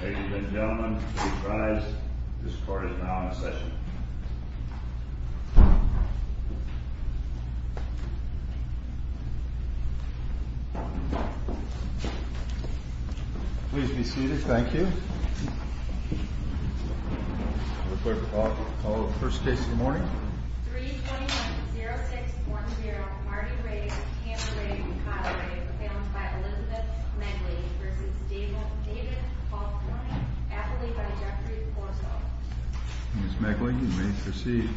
Ladies and gentlemen, please rise. This court is now in session. Please be seated. Thank you. 321-0610 Marty Rave, Tanner Rave, and Cotter Rave, found by Elizabeth Megley v. David Faulkner, affidavit by Jeffrey Corso. Ms. Megley, you may proceed.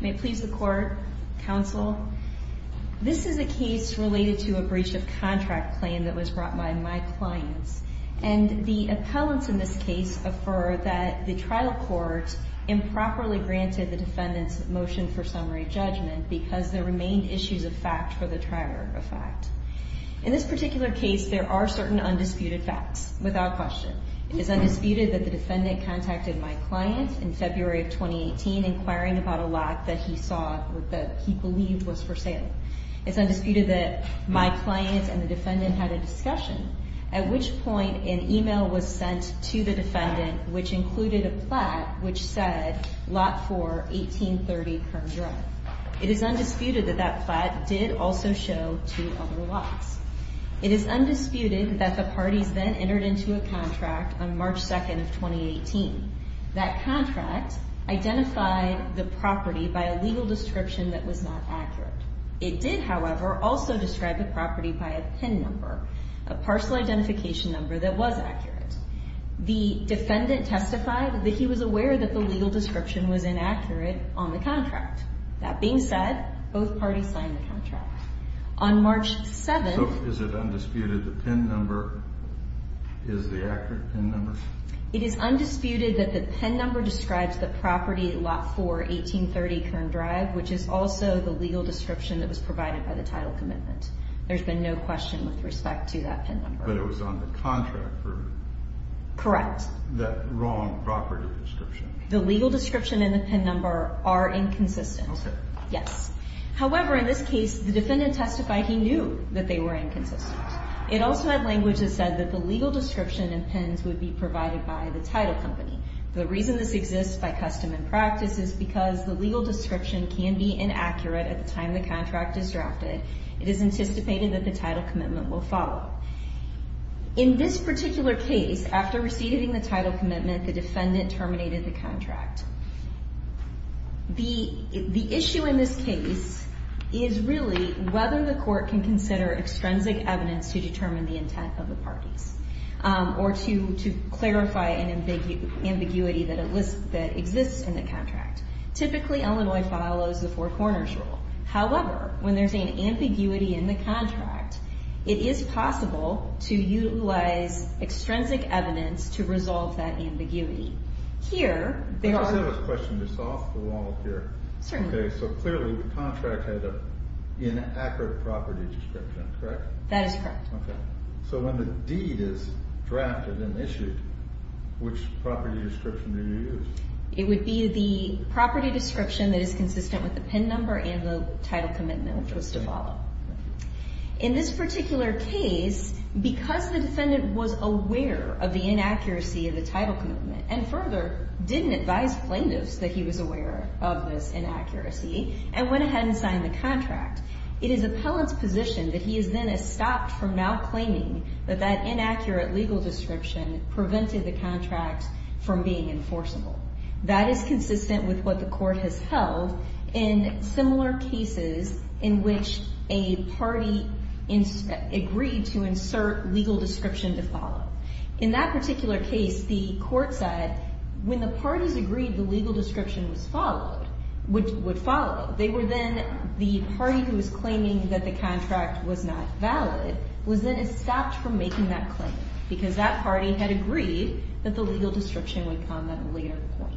May it please the Court, Counsel. This is a case related to a breach of contract claim that was brought by my clients, and the appellants in this case affirmed that the trial court improperly granted the defendant's motion for summary judgment because there remained issues of fact for the trier of fact. In this particular case, there are certain undisputed facts, without question. It is undisputed that the defendant contacted my client in February of 2018 inquiring about a lot that he saw that he believed was for sale. It's undisputed that my client and the defendant had a discussion, at which point an email was sent to the defendant which included a plat which said, Lot 4, 1830 Kern Drive. It is undisputed that that plat did also show two other lots. It is undisputed that the parties then entered into a contract on March 2nd of 2018. That contract identified the property by a legal description that was not accurate. It did, however, also describe the property by a PIN number, a parcel identification number that was accurate. The defendant testified that he was aware that the legal description was inaccurate on the contract. On March 7th... So is it undisputed the PIN number is the accurate PIN number? It is undisputed that the PIN number describes the property, Lot 4, 1830 Kern Drive, which is also the legal description that was provided by the title commitment. There's been no question with respect to that PIN number. But it was on the contract for... Correct. That wrong property description. The legal description and the PIN number are inconsistent. Okay. Yes. However, in this case, the defendant testified he knew that they were inconsistent. It also had language that said that the legal description and PINs would be provided by the title company. The reason this exists by custom and practice is because the legal description can be inaccurate at the time the contract is drafted. It is anticipated that the title commitment will follow. In this particular case, after receiving the title commitment, the defendant terminated the contract. The issue in this case is really whether the court can consider extrinsic evidence to determine the intent of the parties or to clarify an ambiguity that exists in the contract. Typically, Illinois follows the four corners rule. However, when there's an ambiguity in the contract, it is possible to utilize extrinsic evidence to resolve that ambiguity. Here, there are... I just have a question just off the wall here. Certainly. Okay, so clearly the contract had an inaccurate property description, correct? That is correct. Okay. So when the deed is drafted and issued, which property description do you use? It would be the property description that is consistent with the PIN number and the title commitment, which was to follow. Okay. In this particular case, because the defendant was aware of the inaccuracy of the title commitment and further didn't advise plaintiffs that he was aware of this inaccuracy and went ahead and signed the contract, it is appellant's position that he is then stopped from now claiming that that inaccurate legal description prevented the contract from being enforceable. That is consistent with what the court has held in similar cases in which a party agreed to insert legal description to follow. In that particular case, the court said when the parties agreed the legal description would follow, they were then... the party who was claiming that the contract was not valid was then stopped from making that claim because that party had agreed that the legal description would come at a later point.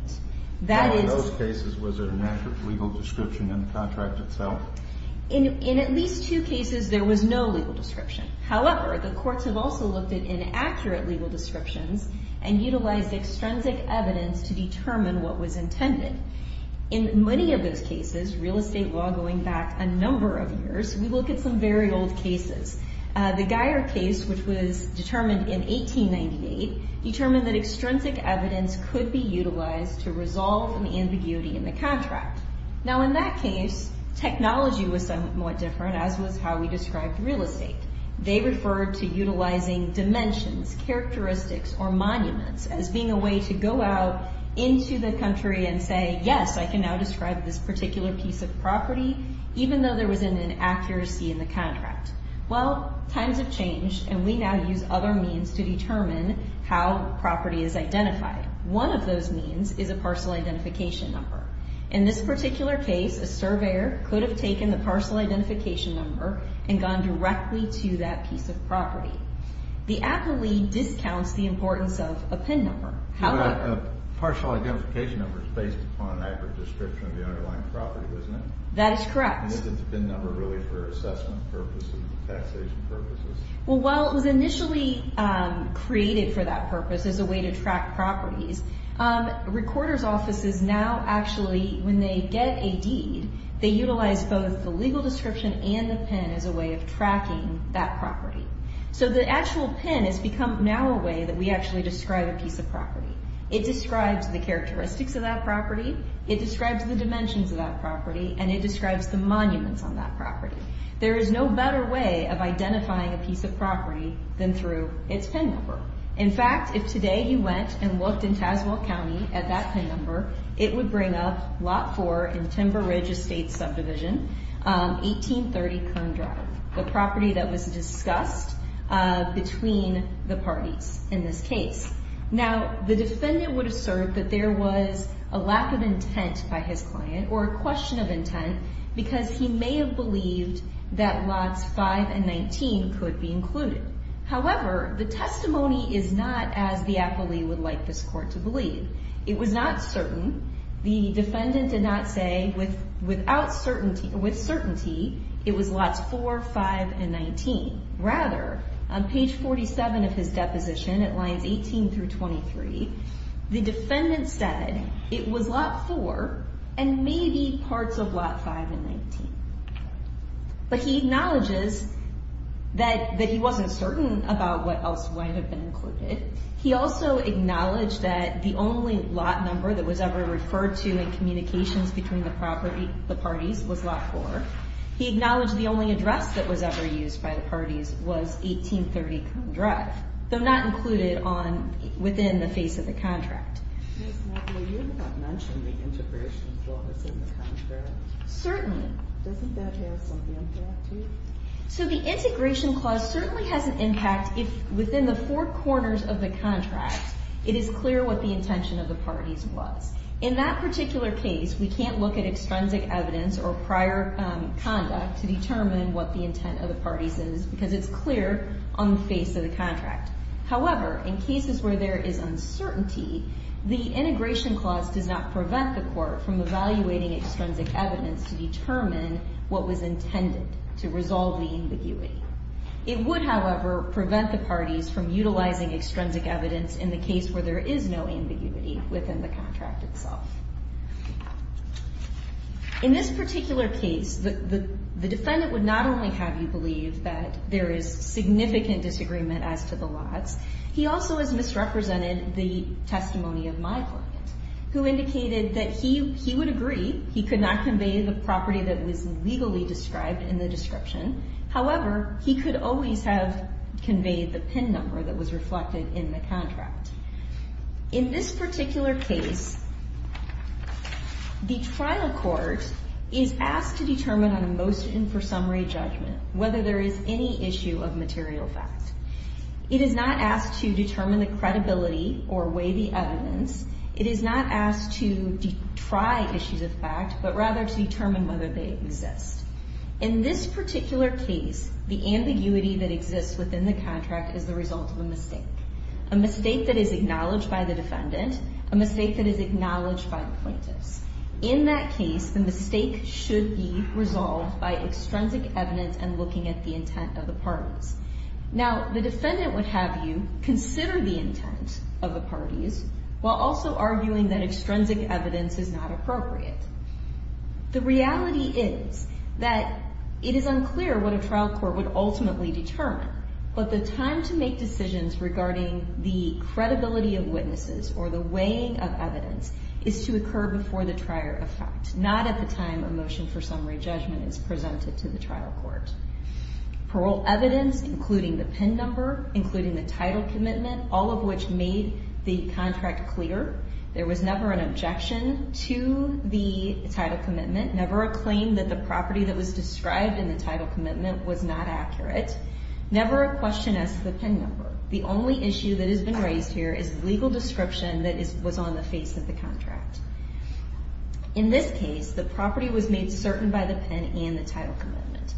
In those cases, was there an accurate legal description in the contract itself? In at least two cases, there was no legal description. However, the courts have also looked at inaccurate legal descriptions and utilized extrinsic evidence to determine what was intended. In many of those cases, real estate law going back a number of years, we look at some very old cases. The Geier case, which was determined in 1898, determined that extrinsic evidence could be utilized to resolve an ambiguity in the contract. Now, in that case, technology was somewhat different as was how we described real estate. They referred to utilizing dimensions, characteristics, or monuments as being a way to go out into the country and say, yes, I can now describe this particular piece of property even though there was an inaccuracy in the contract. Well, times have changed, and we now use other means to determine how property is identified. One of those means is a parcel identification number. In this particular case, a surveyor could have taken the parcel identification number and gone directly to that piece of property. The appellee discounts the importance of a PIN number. A parcel identification number is based upon an accurate description of the underlying property, isn't it? That is correct. And is it a PIN number really for assessment purposes, taxation purposes? Well, while it was initially created for that purpose as a way to track properties, recorders' offices now actually, when they get a deed, they utilize both the legal description and the PIN as a way of tracking that property. So the actual PIN has become now a way that we actually describe a piece of property. It describes the characteristics of that property. It describes the dimensions of that property, and it describes the monuments on that property. There is no better way of identifying a piece of property than through its PIN number. In fact, if today you went and looked in Tazewell County at that PIN number, it would bring up Lot 4 in Timber Ridge Estate Subdivision, 1830 Kern Drive. The property that was discussed between the parties in this case. Now, the defendant would assert that there was a lack of intent by his client or a question of intent because he may have believed that Lots 5 and 19 could be included. However, the testimony is not as the appellee would like this court to believe. It was not certain. The defendant did not say with certainty it was Lots 4, 5, and 19. Rather, on page 47 of his deposition at lines 18 through 23, the defendant said it was Lot 4 and maybe parts of Lot 5 and 19. But he acknowledges that he wasn't certain about what else might have been included. He also acknowledged that the only lot number that was ever referred to in communications between the parties was Lot 4. He acknowledged the only address that was ever used by the parties was 1830 Kern Drive, though not included within the face of the contract. Ms. McAvoy, you did not mention the integration clause in the contract. Certainly. Doesn't that have some impact to you? So the integration clause certainly has an impact within the four corners of the contract. It is clear what the intention of the parties was. In that particular case, we can't look at extrinsic evidence or prior conduct to determine what the intent of the parties is because it's clear on the face of the contract. However, in cases where there is uncertainty, the integration clause does not prevent the court from evaluating extrinsic evidence to determine what was intended to resolve the ambiguity. It would, however, prevent the parties from utilizing extrinsic evidence in the case where there is no ambiguity within the contract itself. In this particular case, the defendant would not only have you believe that there is significant disagreement as to the lots, he also has misrepresented the testimony of my client, who indicated that he would agree he could not convey the property that was legally described in the description. However, he could always have conveyed the PIN number that was reflected in the contract. In this particular case, the trial court is asked to determine on a motion for summary judgment whether there is any issue of material fact. It is not asked to determine the credibility or weigh the evidence. It is not asked to try issues of fact, but rather to determine whether they exist. In this particular case, the ambiguity that exists within the contract is the result of a mistake. A mistake that is acknowledged by the defendant, a mistake that is acknowledged by the plaintiffs. In that case, the mistake should be resolved by extrinsic evidence and looking at the intent of the parties. Now, the defendant would have you consider the intent of the parties while also arguing that extrinsic evidence is not appropriate. The reality is that it is unclear what a trial court would ultimately determine, but the time to make decisions regarding the credibility of witnesses or the weighing of evidence is to occur before the trier of fact, not at the time a motion for summary judgment is presented to the trial court. Parole evidence, including the PIN number, including the title commitment, all of which made the contract clear. There was never an objection to the title commitment. Never a claim that the property that was described in the title commitment was not accurate. Never a question as to the PIN number. The only issue that has been raised here is the legal description that was on the face of the contract. In this case, the property was made certain by the PIN and the title commitment.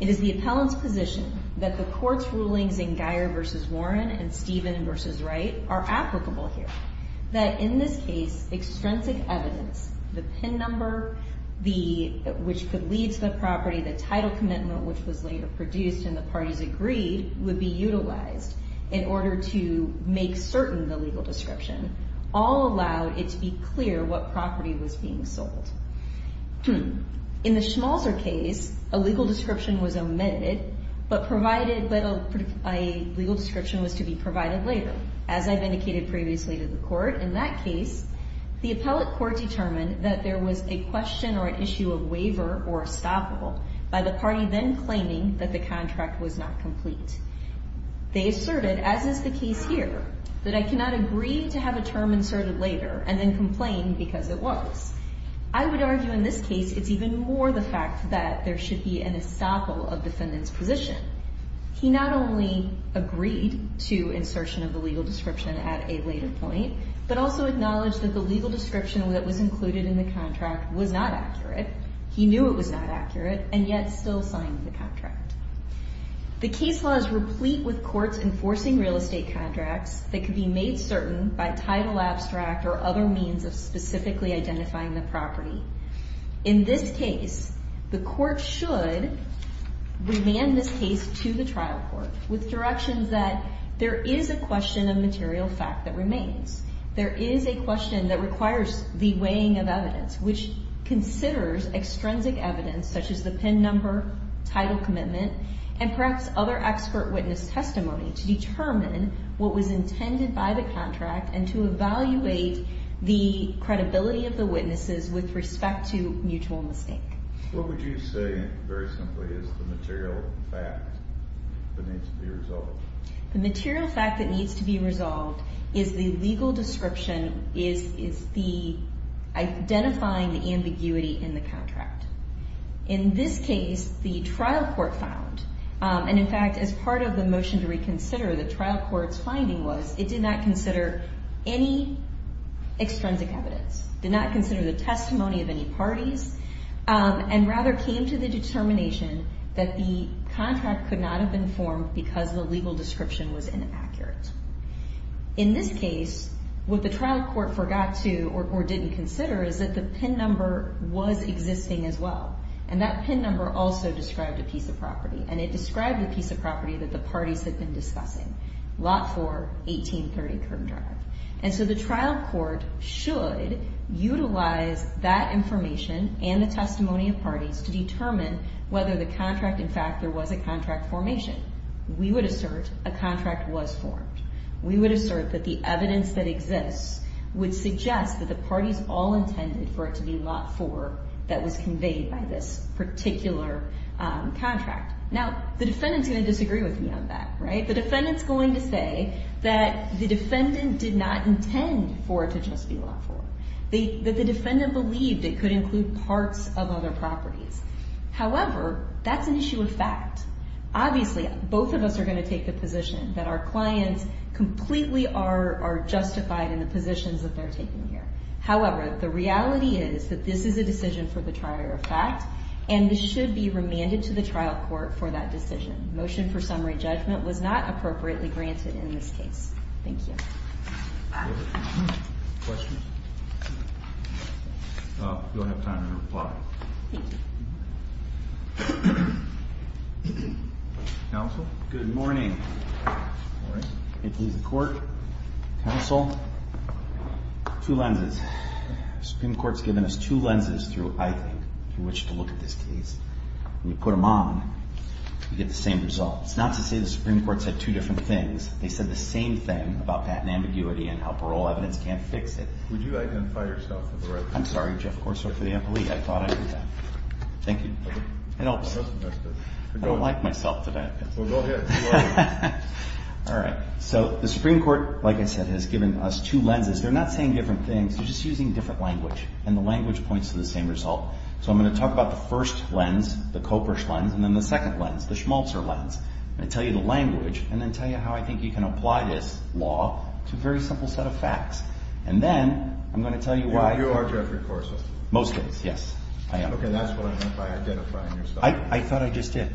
It is the appellant's position that the court's rulings in Guyer v. Warren and Stephen v. Wright are applicable here. That in this case, extrinsic evidence, the PIN number, which could lead to the property, the title commitment, which was later produced and the parties agreed would be utilized in order to make certain the legal description, all allowed it to be clear what property was being sold. In the Schmalzer case, a legal description was omitted, but a legal description was to be provided later. As I've indicated previously to the court, in that case, the appellate court determined that there was a question or an issue of waiver or estoppel by the party then claiming that the contract was not complete. They asserted, as is the case here, that I cannot agree to have a term inserted later and then complain because it was. I would argue in this case it's even more the fact that there should be an estoppel of defendant's position. He not only agreed to insertion of the legal description at a later point, but also acknowledged that the legal description that was included in the contract was not accurate. He knew it was not accurate and yet still signed the contract. The case law is replete with courts enforcing real estate contracts that could be made certain by title abstract or other means of specifically identifying the property. In this case, the court should remand this case to the trial court with directions that there is a question of material fact that remains. There is a question that requires the weighing of evidence, which considers extrinsic evidence, such as the PIN number, title commitment, and perhaps other expert witness testimony to determine what was intended by the contract and to evaluate the credibility of the witnesses with respect to mutual mistake. What would you say, very simply, is the material fact that needs to be resolved? The material fact that needs to be resolved is the legal description is the identifying the ambiguity in the contract. In this case, the trial court found, and in fact, as part of the motion to reconsider, the trial court's finding was it did not consider any extrinsic evidence, did not consider the testimony of any parties, and rather came to the determination that the contract could not have been formed because the legal description was inaccurate. In this case, what the trial court forgot to or didn't consider is that the PIN number was existing as well, and that PIN number also described a piece of property, and it described the piece of property that the parties had been discussing. Lot 4, 1830 Kern Drive. And so the trial court should utilize that information and the testimony of parties to determine whether the contract, in fact, there was a contract formation. We would assert a contract was formed. We would assert that the evidence that exists would suggest that the parties all intended for it to be Lot 4 that was conveyed by this particular contract. Now, the defendant's going to disagree with me on that, right? The defendant's going to say that the defendant did not intend for it to just be Lot 4, that the defendant believed it could include parts of other properties. However, that's an issue of fact. Obviously, both of us are going to take the position that our clients completely are justified in the positions that they're taking here. However, the reality is that this is a decision for the trier of fact, and this should be remanded to the trial court for that decision. Motion for summary judgment was not appropriately granted in this case. Thank you. Questions? We don't have time to reply. Thank you. Counsel? Good morning. Good morning. May it please the Court. Counsel. Two lenses. The Supreme Court's given us two lenses through, I think, for which to look at this case. When you put them on, you get the same result. It's not to say the Supreme Court said two different things. They said the same thing about patent ambiguity and how parole evidence can't fix it. Would you identify yourself for the record? I'm sorry. Jeff Corso for the employee. I thought I heard that. Thank you. It helps. I don't like myself today. Well, go ahead. All right. So the Supreme Court, like I said, has given us two lenses. They're not saying different things. They're just using different language, and the language points to the same result. So I'm going to talk about the first lens, the Kopersch lens, and then the second lens, the Schmalzer lens. I'm going to tell you the language and then tell you how I think you can apply this law to a very simple set of facts. And then I'm going to tell you why. You are Jeffrey Corso. Most days, yes, I am. Okay, that's what I meant by identifying yourself. I thought I just did.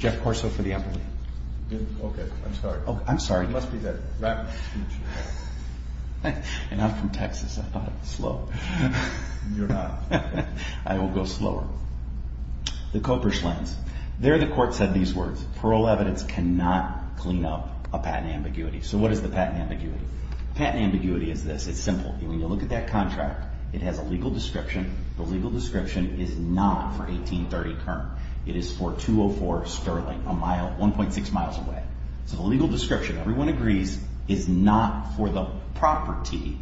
Jeff Corso for the employee. Okay. I'm sorry. I'm sorry. It must be that rapid speech. And I'm from Texas. I thought I was slow. You're not. I will go slower. The Kopersch lens. There the court said these words. Parole evidence cannot clean up a patent ambiguity. So what is the patent ambiguity? The patent ambiguity is this. It's simple. When you look at that contract, it has a legal description. The legal description is not for 1830 Kern. It is for 204 Sterling, 1.6 miles away. So the legal description, everyone agrees, is not for the property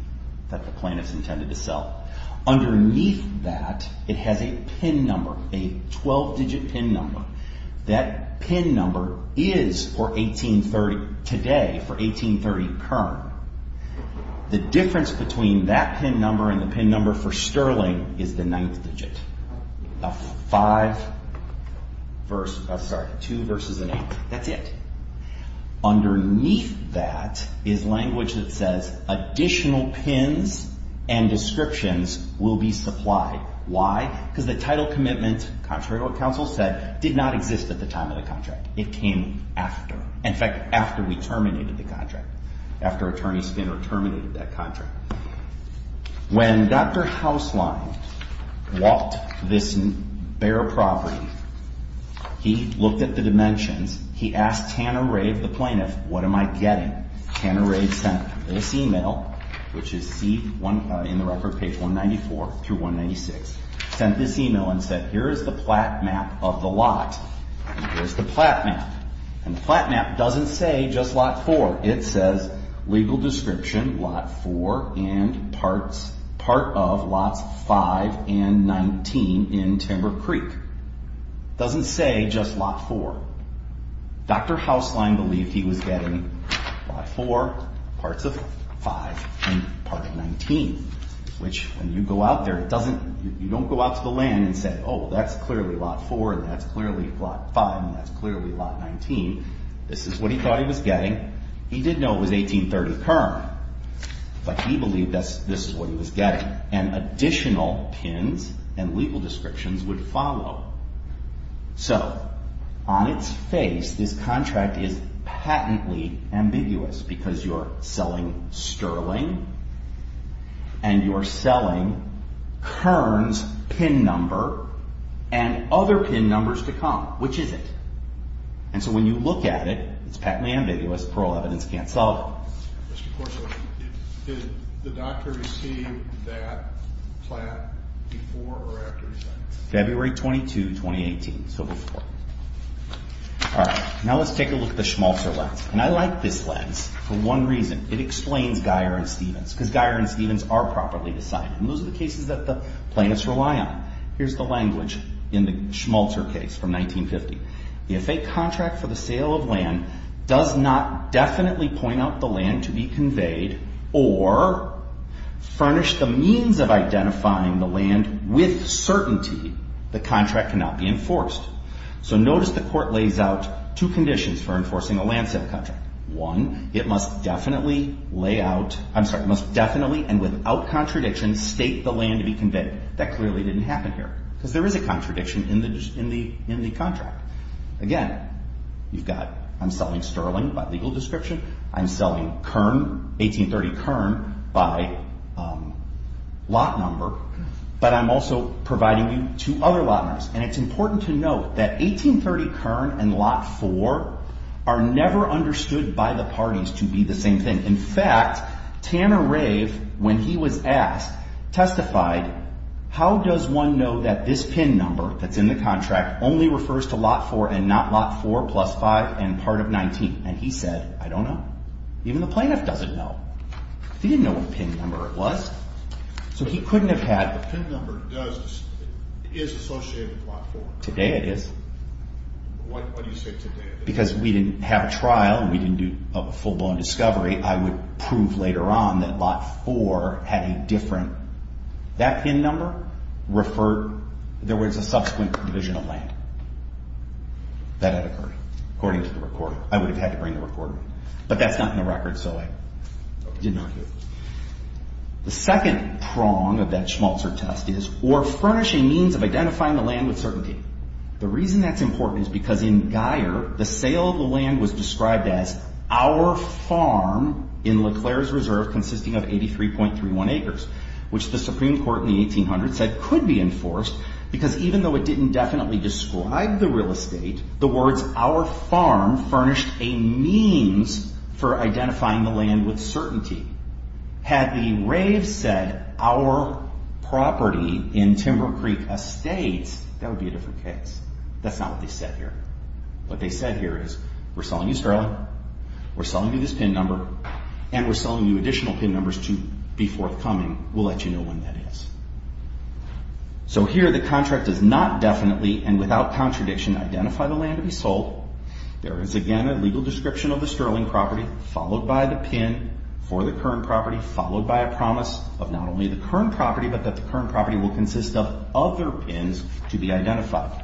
that the plaintiff's intended to sell. Underneath that, it has a PIN number, a 12-digit PIN number. That PIN number is for 1830, today, for 1830 Kern. The difference between that PIN number and the PIN number for Sterling is the ninth digit. A five, two versus an eight. That's it. Underneath that is language that says additional PINs and descriptions will be supplied. Why? Because the title commitment, contrary to what counsel said, did not exist at the time of the contract. In fact, after we terminated the contract. After attorney Skinner terminated that contract. When Dr. Hauslein walked this bare property, he looked at the dimensions. He asked Tanner Ray, the plaintiff, what am I getting? Tanner Ray sent this email, which is in the record page 194 through 196. Sent this email and said, here is the plat map of the lot. Here's the plat map. And the plat map doesn't say just Lot 4. It says legal description, Lot 4, and part of Lots 5 and 19 in Timber Creek. Doesn't say just Lot 4. Dr. Hauslein believed he was getting Lot 4, parts of 5, and part of 19. Which, when you go out there, you don't go out to the land and say, oh, that's clearly Lot 4, and that's clearly Lot 5, and that's clearly Lot 19. This is what he thought he was getting. He did know it was 1830 Kern. But he believed this is what he was getting. And additional pins and legal descriptions would follow. So, on its face, this contract is patently ambiguous. Because you're selling Sterling, and you're selling Kern's pin number, and other pin numbers to come. Which is it? And so when you look at it, it's patently ambiguous. Plural evidence can't solve it. Did the doctor receive that plat before or after he signed it? February 22, 2018. So before. All right. Now let's take a look at the Schmalzer lens. And I like this lens for one reason. It explains Geyer and Stevens. Because Geyer and Stevens are properly decided. And those are the cases that the plaintiffs rely on. Here's the language in the Schmalzer case from 1950. If a contract for the sale of land does not definitely point out the land to be conveyed, or furnish the means of identifying the land with certainty, the contract cannot be enforced. So notice the court lays out two conditions for enforcing a land sale contract. One, it must definitely and without contradiction state the land to be conveyed. That clearly didn't happen here. Because there is a contradiction in the contract. Again, you've got I'm selling Sterling by legal description. I'm selling 1830 Kern by lot number. But I'm also providing you two other lot numbers. And it's important to note that 1830 Kern and Lot 4 are never understood by the parties to be the same thing. In fact, Tanner Rave, when he was asked, testified, how does one know that this PIN number that's in the contract only refers to Lot 4 and not Lot 4 plus 5 and part of 19? And he said, I don't know. Even the plaintiff doesn't know. He didn't know what PIN number it was. So he couldn't have had... The PIN number is associated with Lot 4. Today it is. Why do you say today it is? Because we didn't have a trial. We didn't do a full-blown discovery. I would prove later on that Lot 4 had a different... That PIN number referred... There was a subsequent division of land. That had occurred, according to the recording. I would have had to bring the recording. But that's not in the record, so I did not do it. The second prong of that Schmalzer test is, or furnishing means of identifying the land with certainty. The reason that's important is because in Guyer, the sale of the land was described as our farm in LeClaire's Reserve consisting of 83.31 acres, which the Supreme Court in the 1800s said could be enforced because even though it didn't definitely describe the real estate, the words our farm furnished a means for identifying the land with certainty. Had the Raves said our property in Timber Creek Estates, that would be a different case. That's not what they said here. What they said here is, we're selling you sterling, we're selling you this PIN number, and we're selling you additional PIN numbers to be forthcoming. We'll let you know when that is. So here, the contract does not definitely, and without contradiction, identify the land to be sold. There is, again, a legal description of the sterling property, followed by the PIN for the current property, followed by a promise of not only the current property, but that the current property will consist of other PINs to be identified.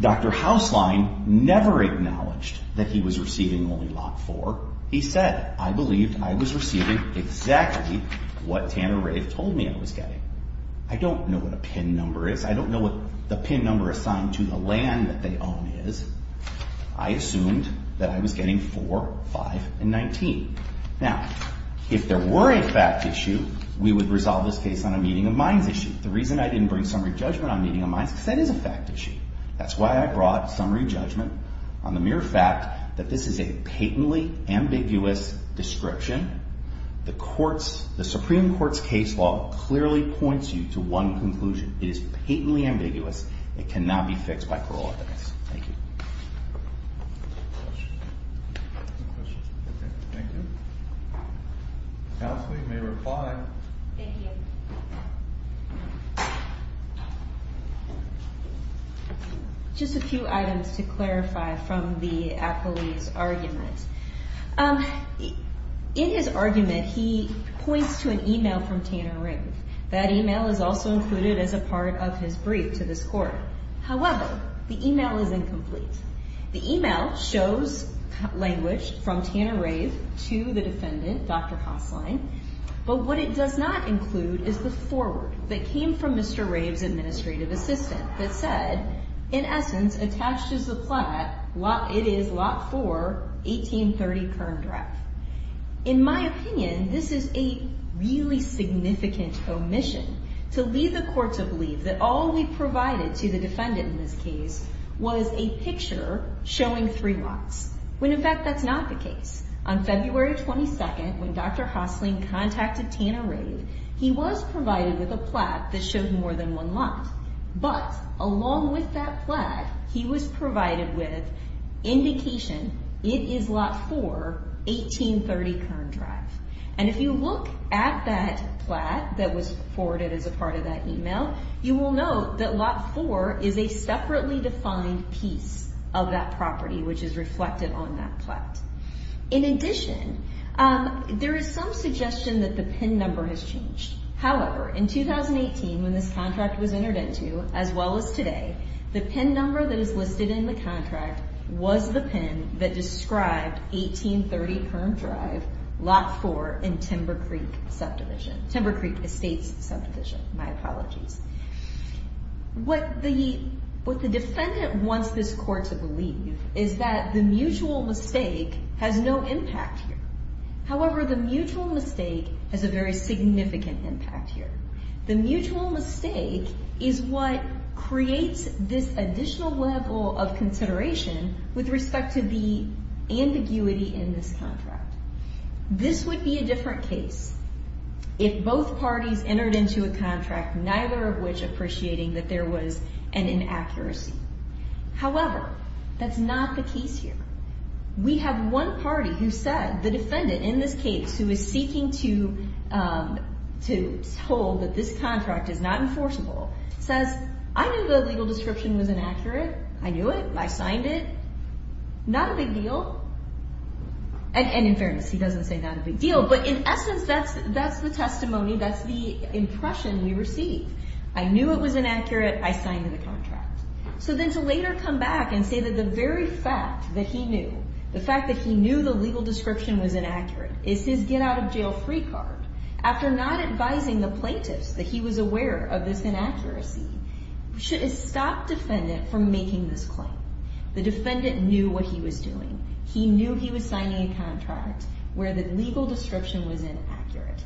Dr. Hauslein never acknowledged that he was receiving only Lot 4. He said, I believe I was receiving exactly what Tanner Rave told me I was getting. I don't know what a PIN number is. I don't know what the PIN number assigned to the land that they own is. I assumed that I was getting 4, 5, and 19. Now, if there were a fact issue, we would resolve this case on a meeting of minds issue. The reason I didn't bring summary judgment on a meeting of minds is because that is a fact issue. That's why I brought summary judgment on the mere fact that this is a patently ambiguous description. The Supreme Court's case law clearly points you to one conclusion. It is patently ambiguous. It cannot be fixed by parole evidence. Thank you. Dr. Hauslein may reply. Thank you. Just a few items to clarify from the accolades argument. In his argument, he points to an email from Tanner Rave. That email is also included as a part of his brief to this court. However, the email is incomplete. The email shows language from Tanner Rave to the defendant, Dr. Hauslein, but what it does not include is the foreword that came from Mr. Rave's administrative assistant that said, in essence, attached to the plat, it is lot 4, 1830 Kern Drive. In my opinion, this is a really significant omission. To leave the court to believe that all we provided to the defendant in this case was a picture showing three lots, when, in fact, that's not the case. On February 22nd, when Dr. Hauslein contacted Tanner Rave, he was provided with a plat that showed more than one lot, but along with that plat, he was provided with indication, it is lot 4, 1830 Kern Drive. If you look at that plat that was forwarded as a part of that email, you will note that lot 4 is a separately defined piece of that property, which is reflected on that plat. In addition, there is some suggestion that the PIN number has changed. However, in 2018, when this contract was entered into, as well as today, the PIN number that is listed in the contract was the PIN that described 1830 Kern Drive, lot 4, in Timber Creek subdivision. Timber Creek Estates subdivision, my apologies. What the defendant wants this court to believe is that the mutual mistake has no impact here. However, the mutual mistake has a very significant impact here. The mutual mistake is what creates this additional level of consideration with respect to the ambiguity in this contract. This would be a different case if both parties entered into a contract, neither of which appreciating that there was an inaccuracy. However, that's not the case here. We have one party who said, the defendant in this case, who is seeking to hold that this contract is not enforceable, says, I knew the legal description was inaccurate. I knew it. I signed it. Not a big deal. And in fairness, he doesn't say not a big deal, but in essence, that's the testimony. That's the impression we received. I knew it was inaccurate. I signed the contract. So then to later come back and say that the very fact that he knew, the fact that he knew the legal description was inaccurate is his get-out-of-jail-free card. After not advising the plaintiffs that he was aware of this inaccuracy, should it stop defendant from making this claim? The defendant knew what he was doing. He knew he was signing a contract where the legal description was inaccurate.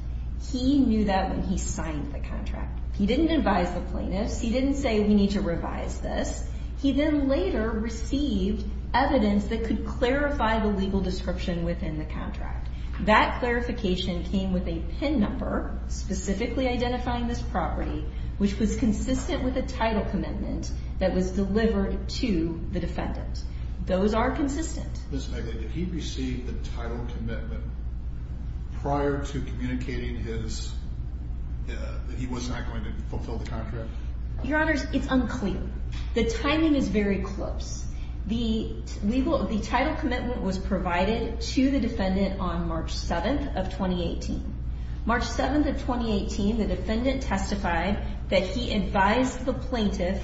He knew that when he signed the contract. He didn't advise the plaintiffs. He didn't say we need to revise this. He then later received evidence that could clarify the legal description within the contract. That clarification came with a PIN number, specifically identifying this property, which was consistent with a title commitment that was delivered to the defendant. Those are consistent. Did he receive the title commitment prior to communicating that he was not going to fulfill the contract? Your Honor, it's unclear. The timing is very close. The title commitment was provided to the defendant on March 7th of 2018. March 7th of 2018, the defendant testified that he advised the plaintiff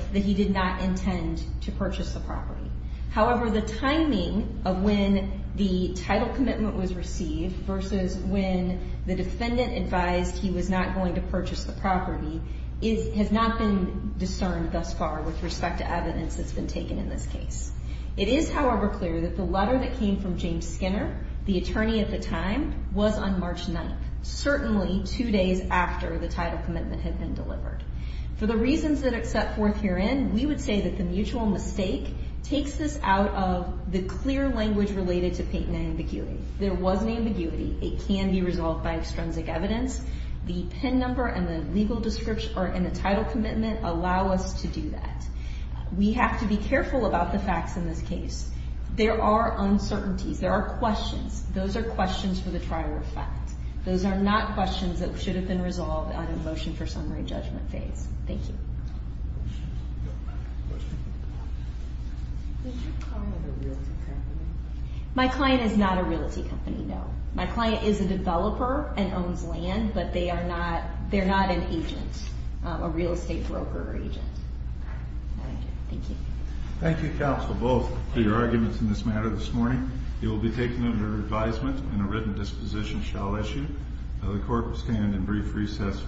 However, the timing of when the title commitment was received versus when the defendant advised he was not going to purchase the property has not been discerned thus far with respect to evidence that's been taken in this case. It is, however, clear that the letter that came from James Skinner, the attorney at the time, was on March 9th, certainly two days after the title commitment had been delivered. For the reasons that are set forth herein, we would say that the mutual mistake takes this out of the clear language related to Peyton and Ambiguity. There was an ambiguity. It can be resolved by extrinsic evidence. The PIN number and the title commitment allow us to do that. We have to be careful about the facts in this case. There are uncertainties. There are questions. Those are questions for the trial to reflect. Those are not questions that should have been resolved on a motion for summary judgment phase. Thank you. My client is not a realty company, no. My client is a developer and owns land, but they are not an agent, a real estate broker or agent. Thank you. Thank you, counsel, both, for your arguments in this matter this morning. It will be taken under advisement and a written disposition shall issue. The court will stand in brief recess.